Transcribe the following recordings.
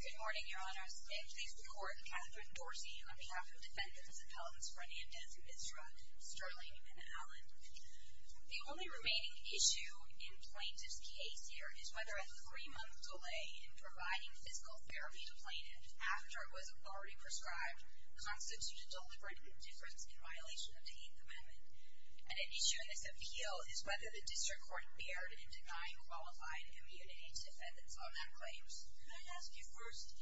Good morning, your honors. May I please record Catherine Dorsey on behalf of Defendants Appellants Fernandez and Vinzant, Sterling and Allen. The only remaining issue in Plaintiff's case here is whether a three-month delay in providing physical therapy to plaintiffs after it was already prescribed constituted deliberate indifference in violation of the Eighth Amendment. An issue in this appeal is whether the District Court erred in denying qualified community defendants on that claim. May I ask you first,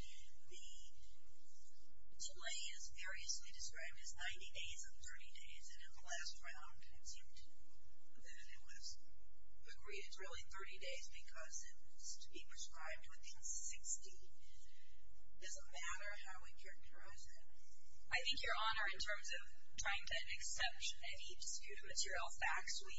the delay is variously described as 90 days or 30 days and in the last round it seemed that it was agreed as really 30 days because it was to be prescribed within 60. Does it matter how we characterize that? I think, your honor, in terms of trying to accept any disputed material facts, we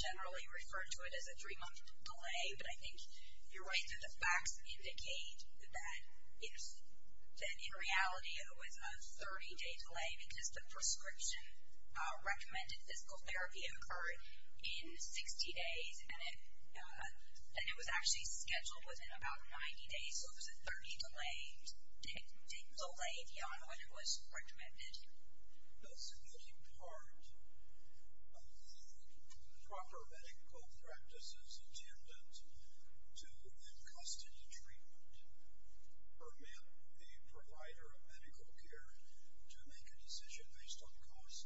generally refer to it as a three-month delay, but I think if you're right that the facts indicate that in reality it was a 30-day delay because the prescription recommended physical therapy occurred in 60 days and it was actually scheduled within about 90 days, so it was a 30-day delay, your honor, when it was recommended. Does getting part of the proper medical practices attendant to the cost of the treatment permit the provider of medical care to make a decision based on cost?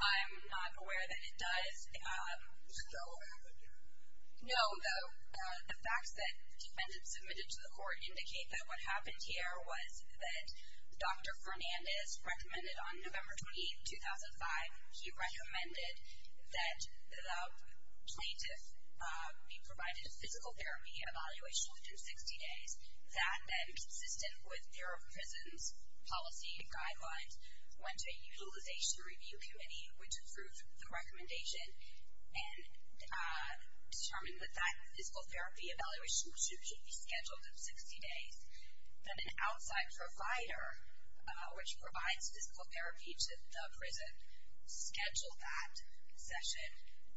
I'm not aware that it does. Does it still happen? No, the facts that have been submitted to the court indicate that what happened here was that Dr. Fernandez recommended on November 28, 2005, he recommended that the plaintiff be provided a physical therapy evaluation to do 60 days, that then consistent with their prison's policy and guidelines, went to a utilization review committee which approved the recommendation and determined that that physical therapy evaluation should be scheduled to 60 days, that an outside provider which provides physical therapy to the prison scheduled that session,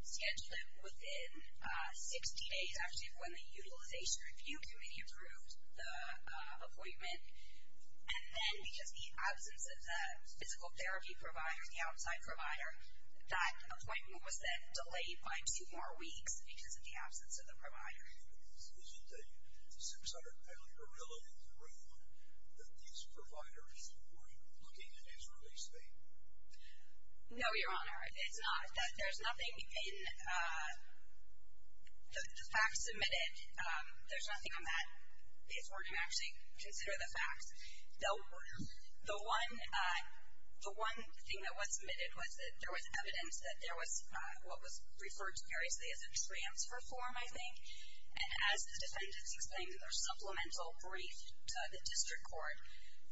scheduled it within 60 days after when the utilization review committee approved the appointment, and then because the absence of the physical therapy provider, the outside provider, that appointment was then delayed by two more weeks because of the absence of the provider. Is it a subsidiary or relative agreement that these providers were looking at his release date? No, your honor. It's not. There's nothing in the facts submitted, there's nothing on that case where you actually consider the facts. The one thing that was submitted was that there was evidence that there was what was And as the defendants explained in their supplemental brief to the district court,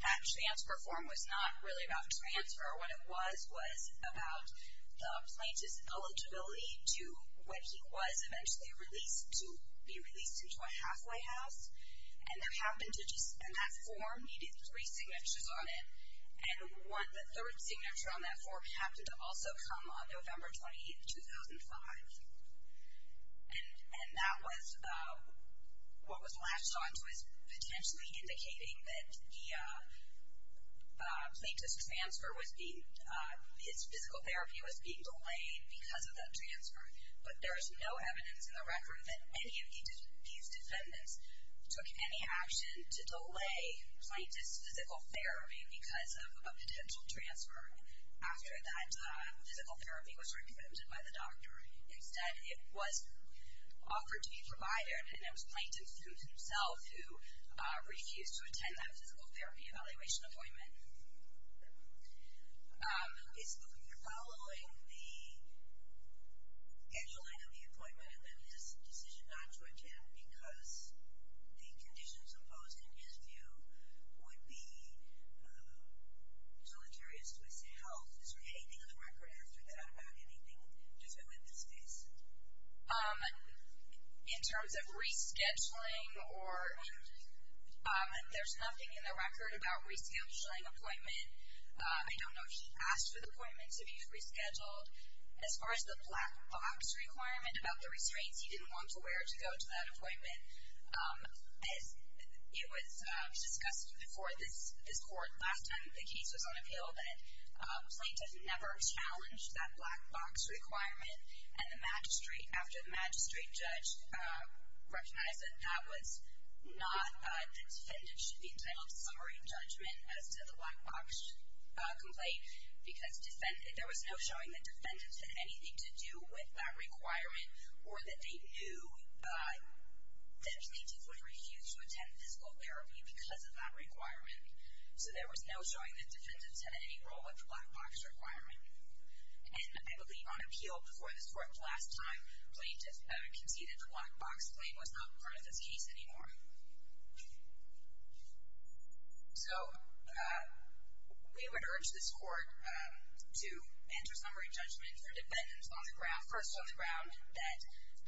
that transfer form was not really about transfer. What it was was about the plaintiff's eligibility to when he was eventually released, to be released into a halfway house. And that form needed three signatures on it, and the third signature on that form happened to also come on November 28, 2005. And that was what was latched onto as potentially indicating that the plaintiff's transfer was being, his physical therapy was being delayed because of that transfer. But there is no evidence in the record that any of these defendants took any action to delay plaintiff's physical therapy because of a potential transfer after that physical therapy was recommitted by the doctor. Instead, it was offered to be provided, and it was plaintiff's suit himself who refused to attend that physical therapy evaluation appointment. Is the court following the scheduling of the appointment and then his decision not to attend because the conditions imposed in his view would be deleterious to his health? Is there anything on the record after that about anything to do with this case? In terms of rescheduling, there's nothing in the record about rescheduling appointment. I don't know if she asked for the appointment to be rescheduled. As far as the black box requirement about the restraints, he didn't want to wear to go to that appointment. As it was discussed before this court last time the case was on appeal, the plaintiff never challenged that black box requirement. And the magistrate, after the magistrate judge recognized that that was not, the defendant should be entitled to summary judgment as to the black box complaint because there was no showing that defendants had anything to do with that requirement or that they knew that plaintiffs would refuse to attend physical therapy because of that requirement. So there was no showing that defendants had any role with the black box requirement. And I believe on appeal before this court last time, plaintiffs conceded the black box claim was not part of this case anymore. So we would urge this court to enter summary judgment for defendants first on the ground that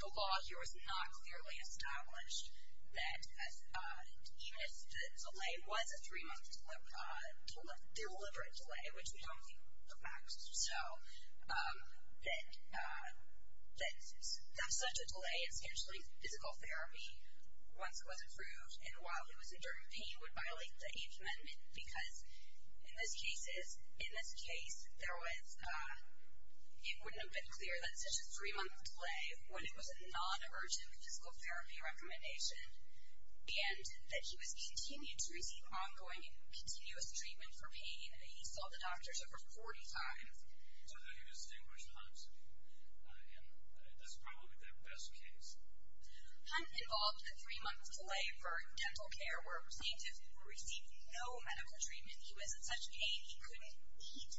the law here was not clearly established, that even if the delay was a three-month deliberate delay, which we don't think perhaps is so, that such a delay in scheduling physical therapy once it was approved and while he was enduring pain would violate the amendment. Because in this case, there was, it wouldn't have been clear that such a three-month delay when it was a non-emergent physical therapy recommendation and that he was continued to receive ongoing and continuous treatment for pain. He saw the doctors over 40 times. So that he distinguished Hunt. And that's probably the best case. Hunt involved a three-month delay for dental care where a plaintiff received no medical treatment. He was in such pain he couldn't eat.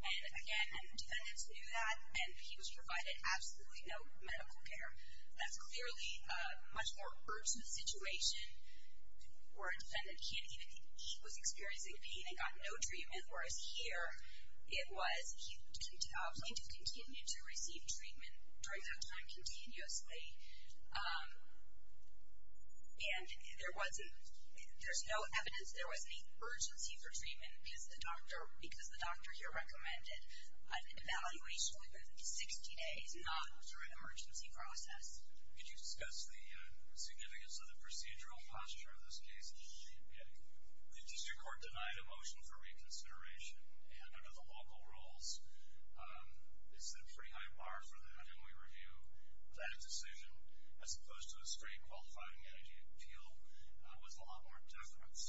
And again, defendants knew that. And he was provided absolutely no medical care. That's clearly a much more urgent situation where a defendant can't eat. He was experiencing pain and got no treatment. Whereas here, it was he continued to receive treatment during that time continuously. And there wasn't, there's no evidence there was any urgency for treatment because the doctor here recommended an evaluation within 60 days, not through an emergency process. Could you discuss the significance of the procedural posture of this case? Yeah. The District Court denied a motion for reconsideration. And under the local rules, they set a pretty high bar for that. And we review that decision as opposed to a straight qualifying appeal with a lot more deference.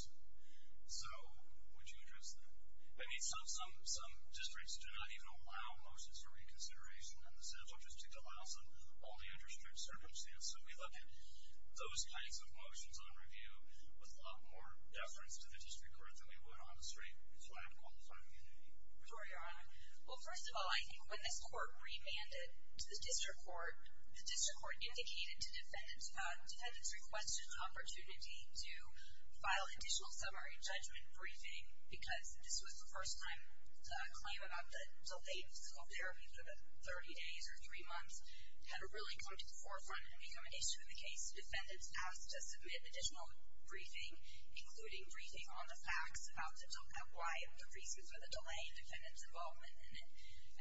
So, would you address that? I mean, some districts do not even allow motions for reconsideration. And the Central District allows them only under strict circumstances. So we look at those kinds of motions on review with a lot more deference to the District Court than we would on the street if we're going to qualify the entity. First of all, I think when this court remanded to the District Court, the District Court indicated to defendants defendants requested an opportunity to file additional summary judgment briefing because this was the first time a claim about the delay in physical therapy for the 30 days or three months had really come to the forefront and become an issue in the case. Defendants asked to submit additional briefing, including briefing on the facts about why the reasons for the delay and defendants' involvement in it.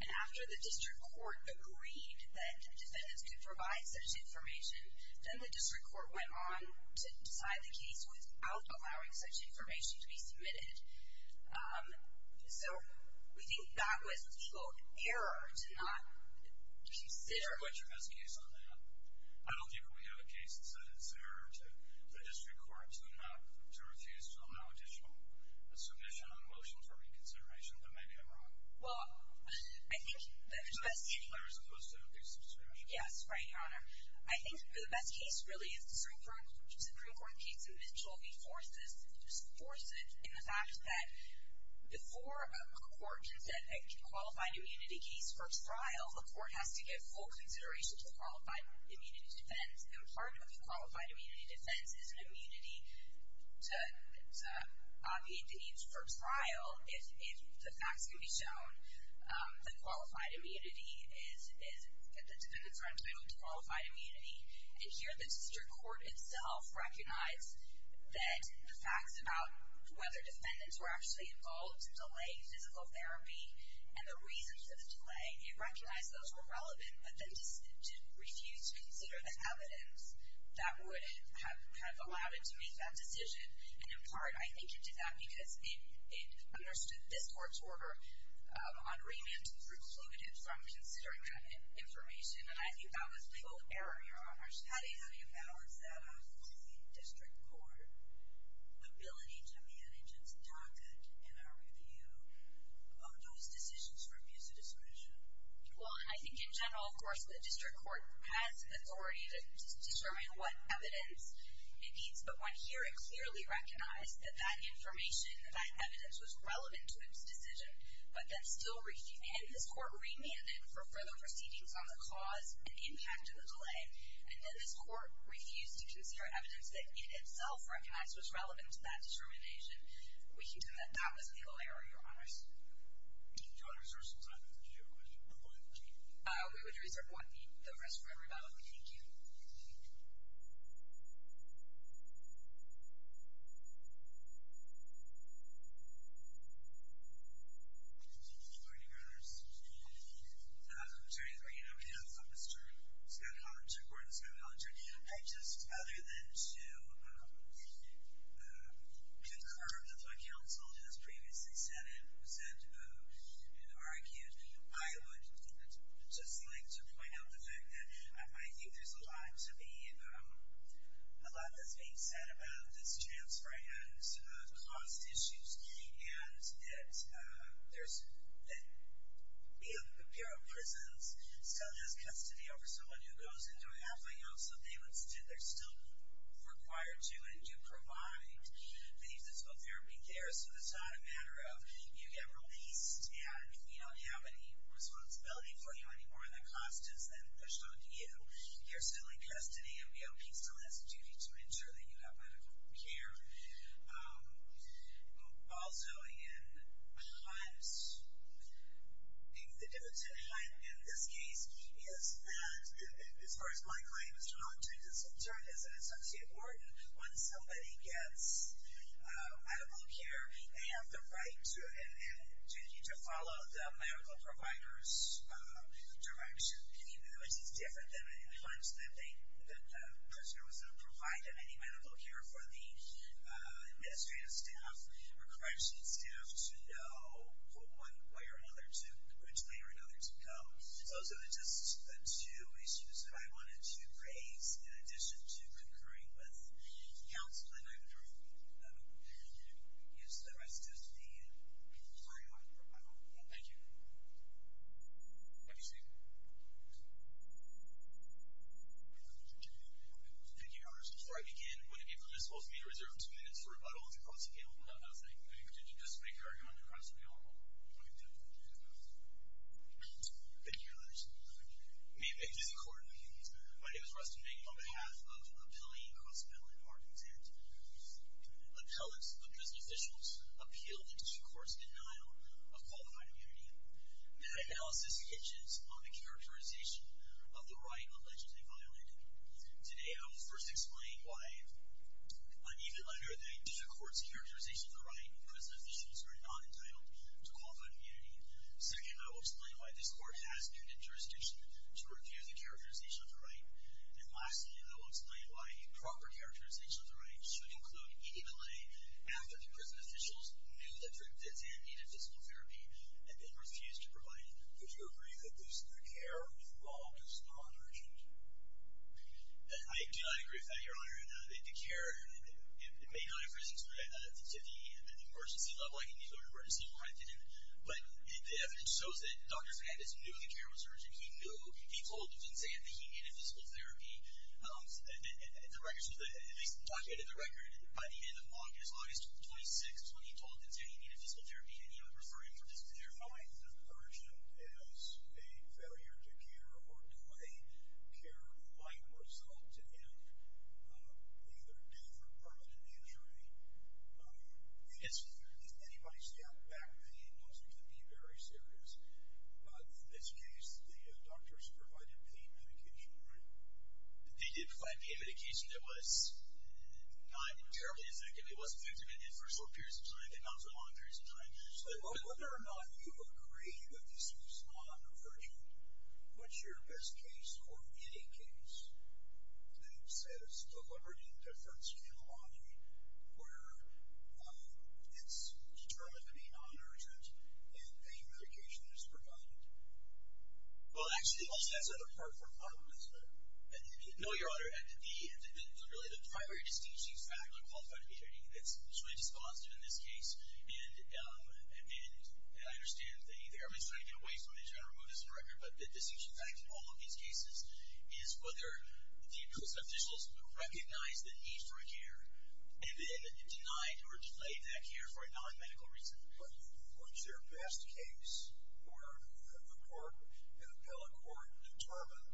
And after the District Court agreed that defendants could provide such information, then the District Court went on to decide the case without allowing such information to be submitted. So we think that was, quote, error to not consider. I don't think we have a case that says it's an error to the District Court to refuse to allow additional submission on motions for reconsideration. Then maybe I'm wrong. Well, I think the question is... It's not fair as opposed to abuse of discretion. Yes, right, Your Honor. I think the best case, really, is the Supreme Court case in Mitchell before this, just force it in the fact that before a court can set a qualified immunity case for trial, the court has to give full consideration to qualified immunity defense. And part of a qualified immunity defense is an immunity to obviate the needs for trial if the facts can be shown that qualified immunity is, that the defendants are entitled to qualified immunity. And here, the District Court itself recognized that the facts about whether defendants were actually involved in delaying physical therapy and the reasons for the delay, it recognized those were relevant, but then refused to consider the evidence that would have allowed it to make that decision. And in part, I think it did that because it understood this court's order on remand to exclude it from considering that information, and I think that was the whole error, Your Honor. How do you balance that out with the District Court ability to manage its docket in a review of those decisions for abuse of discretion? Well, I think in general, of course, the District Court has authority to determine what evidence it needs, but when here it clearly recognized that that information, that evidence was relevant to its decision, but then still refused, and this court remanded for further proceedings on the cause and impact of the delay, and then this court refused to consider evidence that it itself recognized was relevant to that determination, we can tell that that was a legal error, Your Honors. Thank you, Your Honors. There are some time for Q and A. We would reserve one minute. The rest for everybody. Thank you. Thank you, Your Honors. I'm sorry to bring it up again. I'm Mr. Scott Hollinger, Gordon Scott Hollinger. I just, other than to concur with what counsel has previously said and argued, I would just like to point out the fact that I think there's a lot to be, a lot that's being said about this transfer and cost issues and that Bureau of Prisons still has custody over someone who goes into a halfway home, so they're still required to and do provide the physical therapy there, so it's not a matter of you get released and we don't have any responsibility for you anymore, and the cost is then pushed on to you. You're still in custody, and BOP still has a duty to ensure that you have medical care. Also, in HUD, I think the difference in HUD in this case is that, as far as my claim is concerned, as an associate warden, when somebody gets medical care, they have the right to follow the medical provider's direction, which is different than in HUD, which is that the person who's going to provide them any medical care for the administrative staff or correctional staff should know one way or another to go. So those are just the two issues that I wanted to raise, in addition to concurring with counsel, and I'm going to use the rest of the floor. Thank you. Have a good evening. Thank you, Your Honor. Before I begin, would it be permissible for me to reserve two minutes for rebuttals and cross-appeal? No, thank you. Did you just make a rebuttal and cross-appeal? I did. Thank you, Your Honor. May it please the Court. My name is Ruston Mink on behalf of the Appealing Cross-Appeal Department, and I'm here to present an appellate of prison officials appealed in two courts' denial of qualified immunity. That analysis hinges on the characterization of the right allegedly violated. Today I will first explain why, unevenly under the two courts' characterization of the right, prison officials are not entitled to qualified immunity. Second, I will explain why this court has no jurisdiction to review the characterization of the right. And lastly, I will explain why proper characterization of the right should include evenly after the prison officials knew that Dr. Zandt needed physical therapy and then refused to provide it. Would you agree that this, the care involved, is not urgent? I do not agree with that, Your Honor. The care may not have risen to the emergency level. I can neither agree nor disagree. I didn't. But the evidence shows that Dr. Zandt knew the care was urgent. He knew, he told Dr. Zandt that he needed physical therapy. The records, at least the documented record by the end of August 26th was when he told Dr. Zandt he needed physical therapy and he was referring for physical therapy. I find it urgent as a failure to care or delay care might result in either death or permanent injury. Yes. If anybody stepped back then it wasn't going to be very serious. But in this case, the doctors provided pain medication, right? They did provide pain medication. It was not terribly effective. It was effective in inferior periods of time, but not so long periods of time. So whether or not you agree that this is non-urgent, what's your best case or any case that says deliberate interference can determine if it is non-urgent and pain medication is provided? Well, actually, that's another part of the problem. No, Your Honor. The primary distinction, in fact, I'm qualified to be stating, that's truly dispositive in this case, and I understand the Airmen's trying to get away from it, trying to remove this from the record, but the distinction, in fact, in all of these cases is whether the care was urgent and denied or delayed that care for a non-medical reason. But what's your best case where the court, an appellate court, determined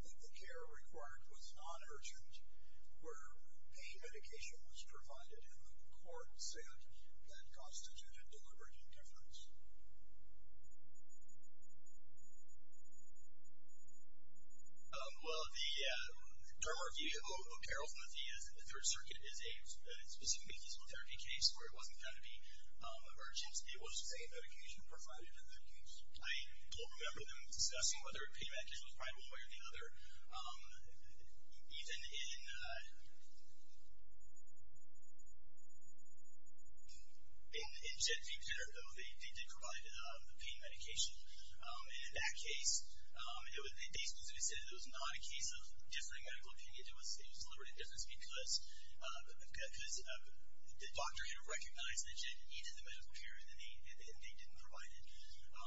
that the care required was non-urgent, where pain medication was provided, and the court said that constituted deliberate interference? Well, the Dermar v. O'Carroll from the third circuit is a specific medical therapy case where it wasn't going to be urgent. It was the same medication provided in that case. I don't remember them discussing whether pain medication was provided one way or the other. Even in Jet v. Pedder, though, they did provide the pain medication. And in that case, they specifically said it was not a case of different medical opinion. It was deliberate interference because the doctor here recognized that Jet v. Pedder needed the medical care and they didn't provide it.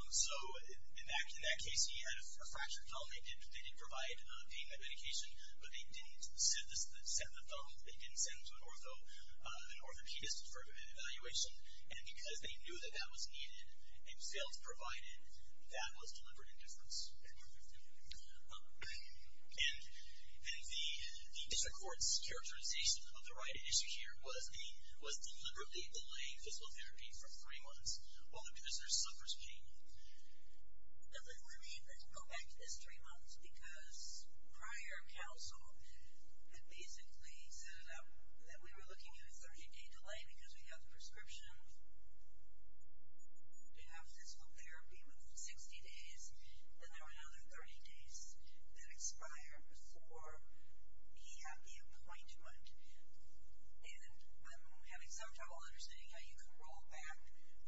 So in that case, he had a fractured thumb. They did provide pain medication, but they didn't send the thumb. They didn't send it to an orthopedist for evaluation. And because they knew that that was needed and failed to provide it, that was deliberate interference. And the district court's characterization of the right issue here was the deliberately delaying physical therapy for three months while the patient suffers pain. Let me go back to this three months because prior counsel had basically set it up that we were looking at a 30-day delay because we had the prescription to have physical therapy within 60 days, and there were another 30 days that expired before he had the appointment. And I'm having some trouble understanding how you can roll back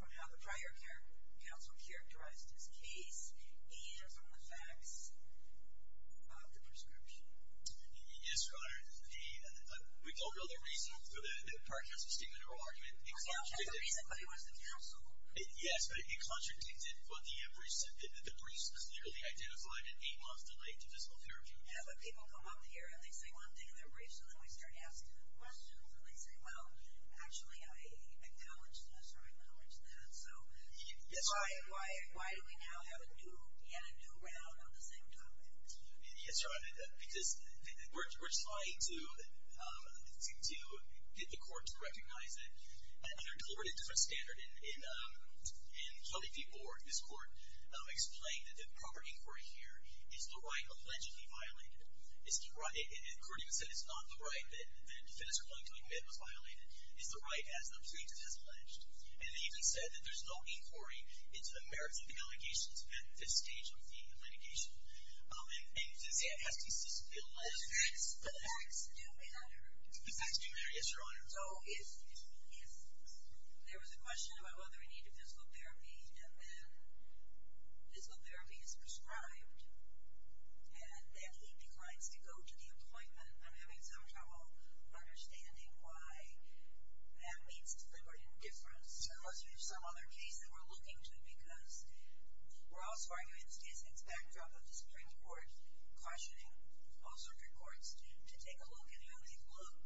from how the prior counsel characterized his case and from the facts of the prescription. Yes, Your Honor. We don't know the reason for the prior counsel's statement or argument. It contradicted. It contradicted what he was in counsel. Yes, but it contradicted what the briefs said. The briefs clearly identified an eight-month delay to physical therapy. Yeah, but people come up here and they say one thing in their briefs, and then they start asking questions, and they say, well, actually, I acknowledge this or I acknowledge that. So why do we now have a new round on the same topic? Yes, Your Honor, because we're trying to get the court to recognize that under a deliberately different standard in Kelly v. Board, this court explained that the proper inquiry here is the right allegedly violated. The court even said it's not the right that a defense replying to a commitment was violated. It's the right, as the briefs have alleged. And they even said that there's no inquiry into the merits of the allegations at this stage of the litigation. And, see, it has to be systematically alleged. The facts do matter. The facts do matter. Yes, Your Honor. So if there was a question about whether he needed physical therapy, and then physical therapy is prescribed, and then he declines to go to the appointment, I'm having some trouble understanding why that means deliberate indifference. Unless there's some other case that we're looking to, because we're also arguing, it's based on the backdrop of the Supreme Court cautioning all circuit courts to take a look at how they've looked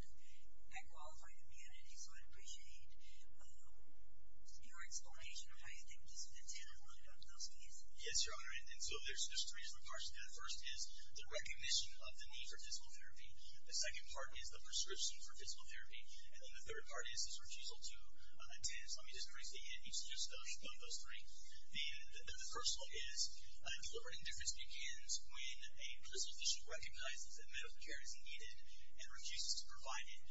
at qualified immunities. So I'd appreciate your explanation of how you think this fits in with those cases. Yes, Your Honor. And so there's three parts to that. The first is the recognition of the need for physical therapy. The second part is the prescription for physical therapy. And then the third part is his refusal to attend. So let me just briefly introduce each of those three. The first one is deliberate indifference begins when a prison physician recognizes that medical care is needed and refuses to provide it.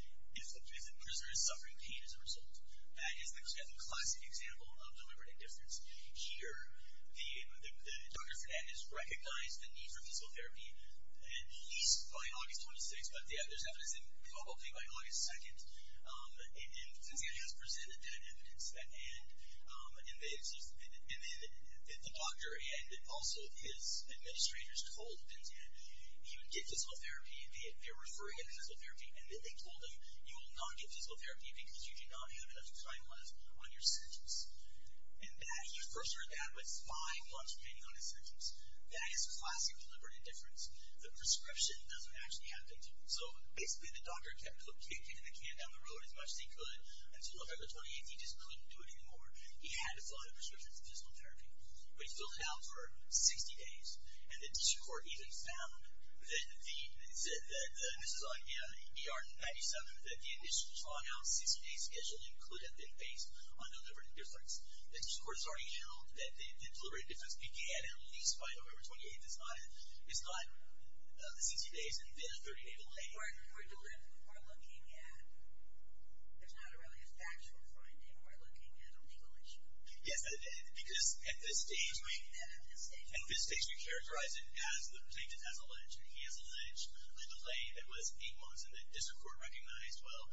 If the prisoner is suffering pain as a result. That is the classic example of deliberate indifference. Here, the doctor is recognized the need for physical therapy, at least by August 26th. But there's evidence involving by August 2nd. And Penzian has presented that evidence. And the doctor and also his administrators told Penzian he would get physical therapy. They were referring him to physical therapy, and then they told him you will not get physical therapy because you do not have enough time left on your sentence. And that he referred that with five months remaining on his sentence. That is classic deliberate indifference. The prescription doesn't actually have to be. So basically the doctor kept putting the can down the road as much as he could until February 28th. He just couldn't do it anymore. He had to fill out a prescription for physical therapy. But he filled it out for 60 days. And the district court even found that the MR-97, that the initial timeout 60-day schedule included had been based on deliberate indifference. The district court has already announced that the deliberate indifference began at least by November 28th. It's not the 60 days and then a 30-day delay. We're looking at, it's not really a factual finding. We're looking at a real issue. Yes, because at this stage we. At this stage we characterize it as the plaintiff has alleged. He has alleged a delay that was eight months. And the district court recognized, well,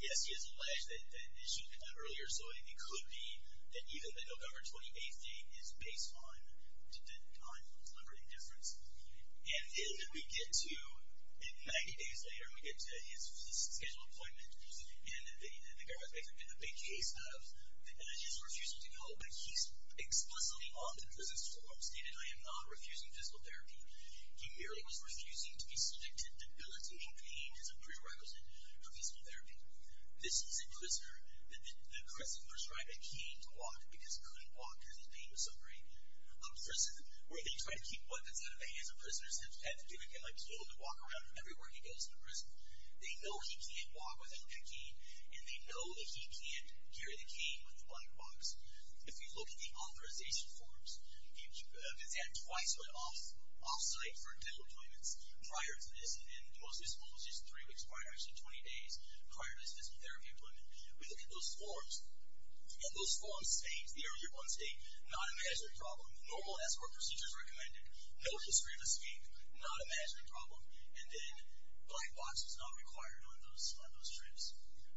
yes, he has alleged that an issue earlier. So it could be that even the November 28th date is based on deliberate indifference. And then we get to, 90 days later, we get to his scheduled appointment. And the guy was making a big case of that he's refusing to go. But he's explicitly on the prisoner's form, stated, I am not refusing physical therapy. He merely was refusing to be subjected to debilitating pain as a prerequisite for physical therapy. This is a prisoner, the aggressor prescribed a cane to walk because he couldn't walk because his pain was so great. For instance, where they try to keep weapons out of the hands of prisoners that have had to be able to walk around everywhere he goes in the prison, they know he can't walk without that cane, and they know that he can't carry the cane with the black box. If you look at the authorization forms, he's had twice off-site for dental appointments prior to this, and most of this was just three weeks prior, actually 20 days prior to his physical therapy appointment. We look at those forms, and those forms state, the earlier ones state, non-imaginary problem, normal escort procedures recommended, no history of escape, non-imaginary problem. And then black box is not required on those trips.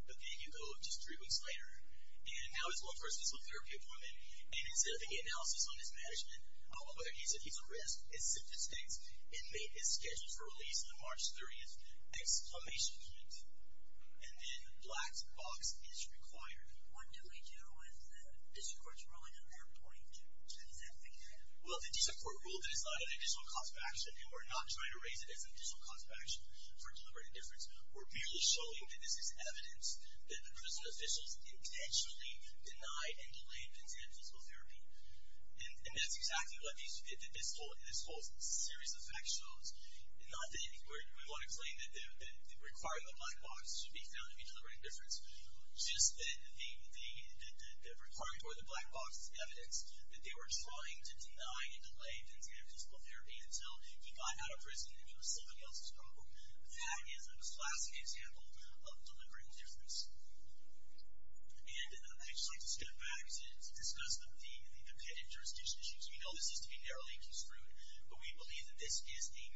But then you go just three weeks later, and now he's going for his physical therapy appointment, and instead of getting analysis on his management, all of a sudden he said he's arrested, his sentence states, inmate is scheduled for release on March 30th, exclamation point. And then black box is required. What do we do with the district court's ruling on their point? What does that say there? Well, the district court ruled that it's not an additional cost of action, and we're not trying to raise it as an additional cost of action for deliberate indifference. We're merely showing that this is evidence that the prison officials intentionally denied and delayed consent for physical therapy. And that's exactly what this whole series of facts shows. Not that we want to claim that the requirement of black box should be found to be deliberate indifference, just that the requirement for the black box is evidence that they were trying to deny and delay consent for physical therapy until he got out of prison and he was somebody else's problem. That is a classic example of deliberate indifference. And I'd just like to step back to discuss the pet interstitial issues. We know this is to be narrowly construed, but we believe that this is the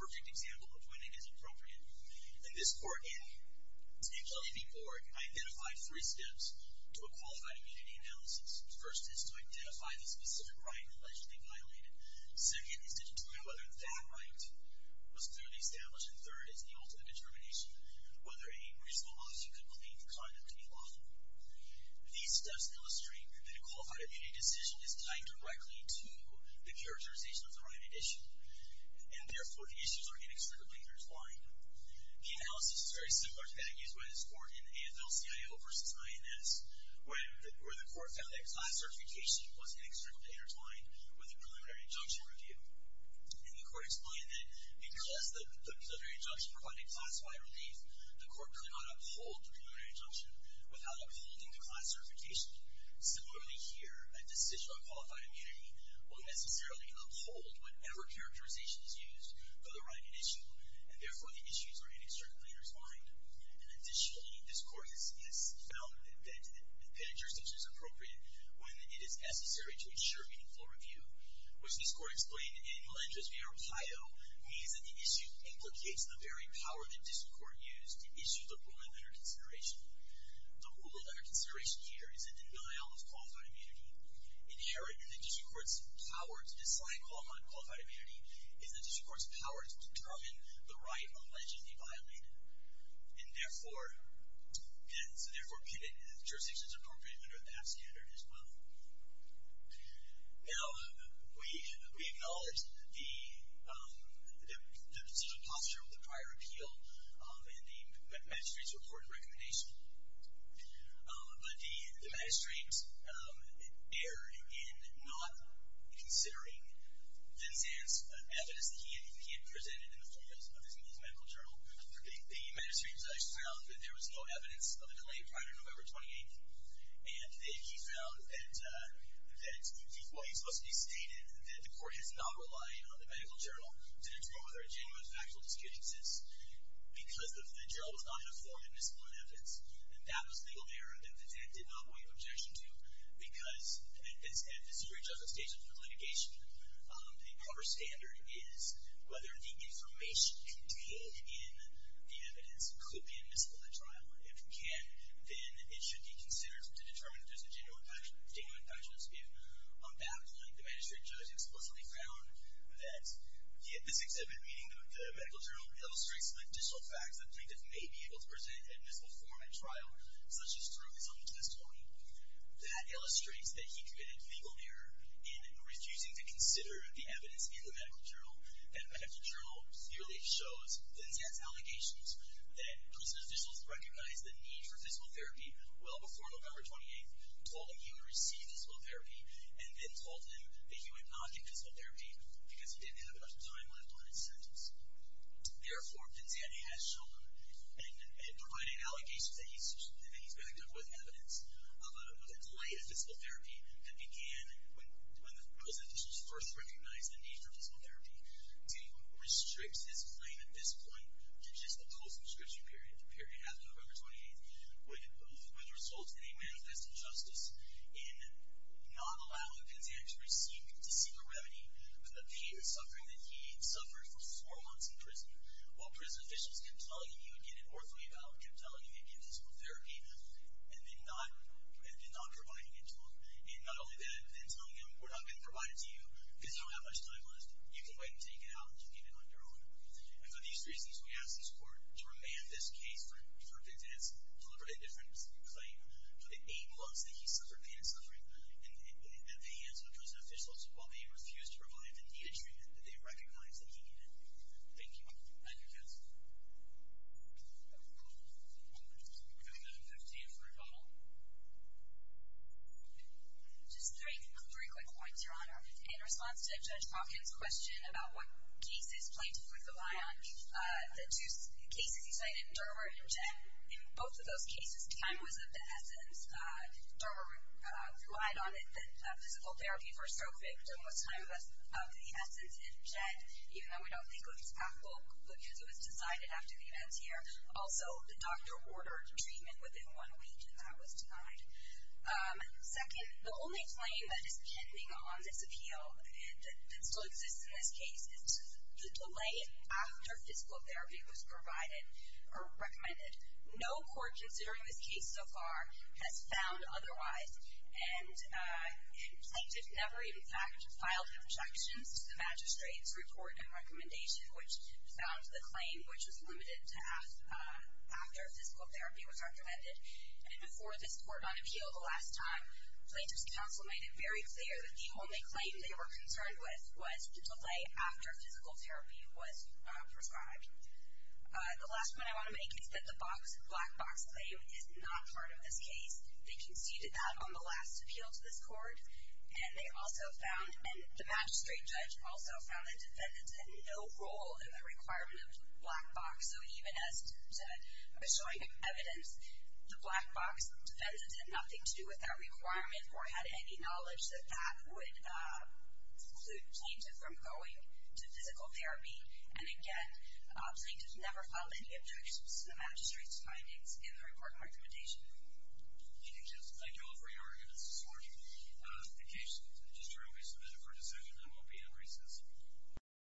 perfect example of when it is appropriate. And this court, and particularly the court, identified three steps to a qualified immunity analysis. First is to identify the specific right allegedly violated. Second is to determine whether that right was clearly established. And third is the ultimate determination, whether any reasonable logic could claim the conduct to be lawful. These steps illustrate that a qualified immunity decision is tied directly to the characterization of the right at issue, and therefore the issues are inexplicably intertwined. The analysis is very similar to that used by this court in AFL-CIO versus INS, where the court found that class certification was inexplicably intertwined with the preliminary injunction review. And the court explained that because the preliminary injunction provided classified relief, the court could not uphold the preliminary injunction without upholding the class certification. Similarly here, a decision on qualified immunity will necessarily uphold whatever characterization is used for the right at issue, and therefore the issues are inexplicably intertwined. And additionally, this court has found that penetration is appropriate when it is necessary to ensure meaningful review, which this court explained in Melendrez v. Ohio, means that the issue implicates the very power that district court used to issue the rule of under consideration. The rule of under consideration here is the denial of qualified immunity. Inherent in the district court's power to decide upon qualified immunity is the district court's power to determine the right allegedly violated. And therefore, jurisdiction is appropriate under that standard as well. Now, we acknowledge the positional posture of the prior appeal in the magistrate's report and recommendation. But the magistrate erred in not considering the evidence that he had presented in the form of his medical journal. The magistrate found that there was no evidence of a delay prior to November 28th. And he found that the court has not relied on the medical journal to determine whether a genuine factual dispute exists because the journal was not informed of miscellaneous evidence. And that was a legal error that the judge did not waive objection to because at the district judge's stage of litigation, a proper standard is whether the information contained in the evidence could be admissible at trial. And if it can, then it should be considered to determine if there's a genuine factual dispute. On that point, the magistrate judge explicitly found that, yet this exhibit, meaning the medical journal, illustrates the additional facts that plaintiffs may be able to present in admissible form at trial, such as through his own testimony. That illustrates that he committed legal error in refusing to consider the evidence in the medical journal. And the medical journal clearly shows, since he has allegations, that criminal officials recognized the need for admissible therapy well before November 28th, told him he would receive admissible therapy, and then told him that he would not get admissible therapy because he didn't have enough time left on his sentence. Therefore, Pinzanti has shown in providing allegations that he's been equipped with evidence that delayed admissible therapy and began when those officials first recognized the need for admissible therapy. Pinzanti restricts his claim at this point to just a post-inscription period, the period after November 28th, with results that he manifested justice in not allowing Pinzanti to receive a remedy for the pain and suffering that he had suffered for four months in prison, while prison officials could tell you he would get an ortho-eval, could tell you he would get admissible therapy, and then not providing it to him. And not only that, but then telling him, we're not going to provide it to you because you don't have much time left. You can wait until you get out and you can get it on your own. And for these reasons, we ask this court to remand this case for Pinzanti's deliberately different claim, to enable us that he suffered pain and suffering at the hands of prison officials while they refused to provide the needed treatment that they recognized that he needed. Thank you. Thank you, counsel. We'll go to number 15 for rebuttal. Just three quick points, Your Honor. In response to Judge Hawkins' question about what cases plaintiffs would rely on, the two cases you cited, Durbert and Jett, in both of those cases, time was of the essence. Durbert relied on physical therapy for a stroke victim, was time of the essence in Jett, even though we don't think it was possible because it was decided after the events here. Also, the doctor ordered treatment within one week, and that was denied. Second, the only claim that is pending on this appeal that still exists in this case is the delay after physical therapy was provided or recommended. No court considering this case so far has found otherwise, and plaintiffs never, in fact, filed objections to the magistrate's report and recommendation, which found the claim, which was limited to after physical therapy was recommended. And before this court on appeal the last time, Plaintiffs' counsel made it very clear that the only claim they were concerned with was the delay after physical therapy was prescribed. The last point I want to make is that the black box claim is not part of this case. They conceded that on the last appeal to this court, and they also found, and the magistrate judge also found, that defendants had no role in the requirement of the black box. So even as I was showing evidence, the black box defendants had nothing to do with that requirement or had any knowledge that that would change it from going to physical therapy. And again, plaintiffs never filed any objections to the magistrate's findings in the report and recommendation. Thank you, Justice. Thank you all for your arguments this morning. The case is adjourned. We submit it for decision. And we'll be in recess.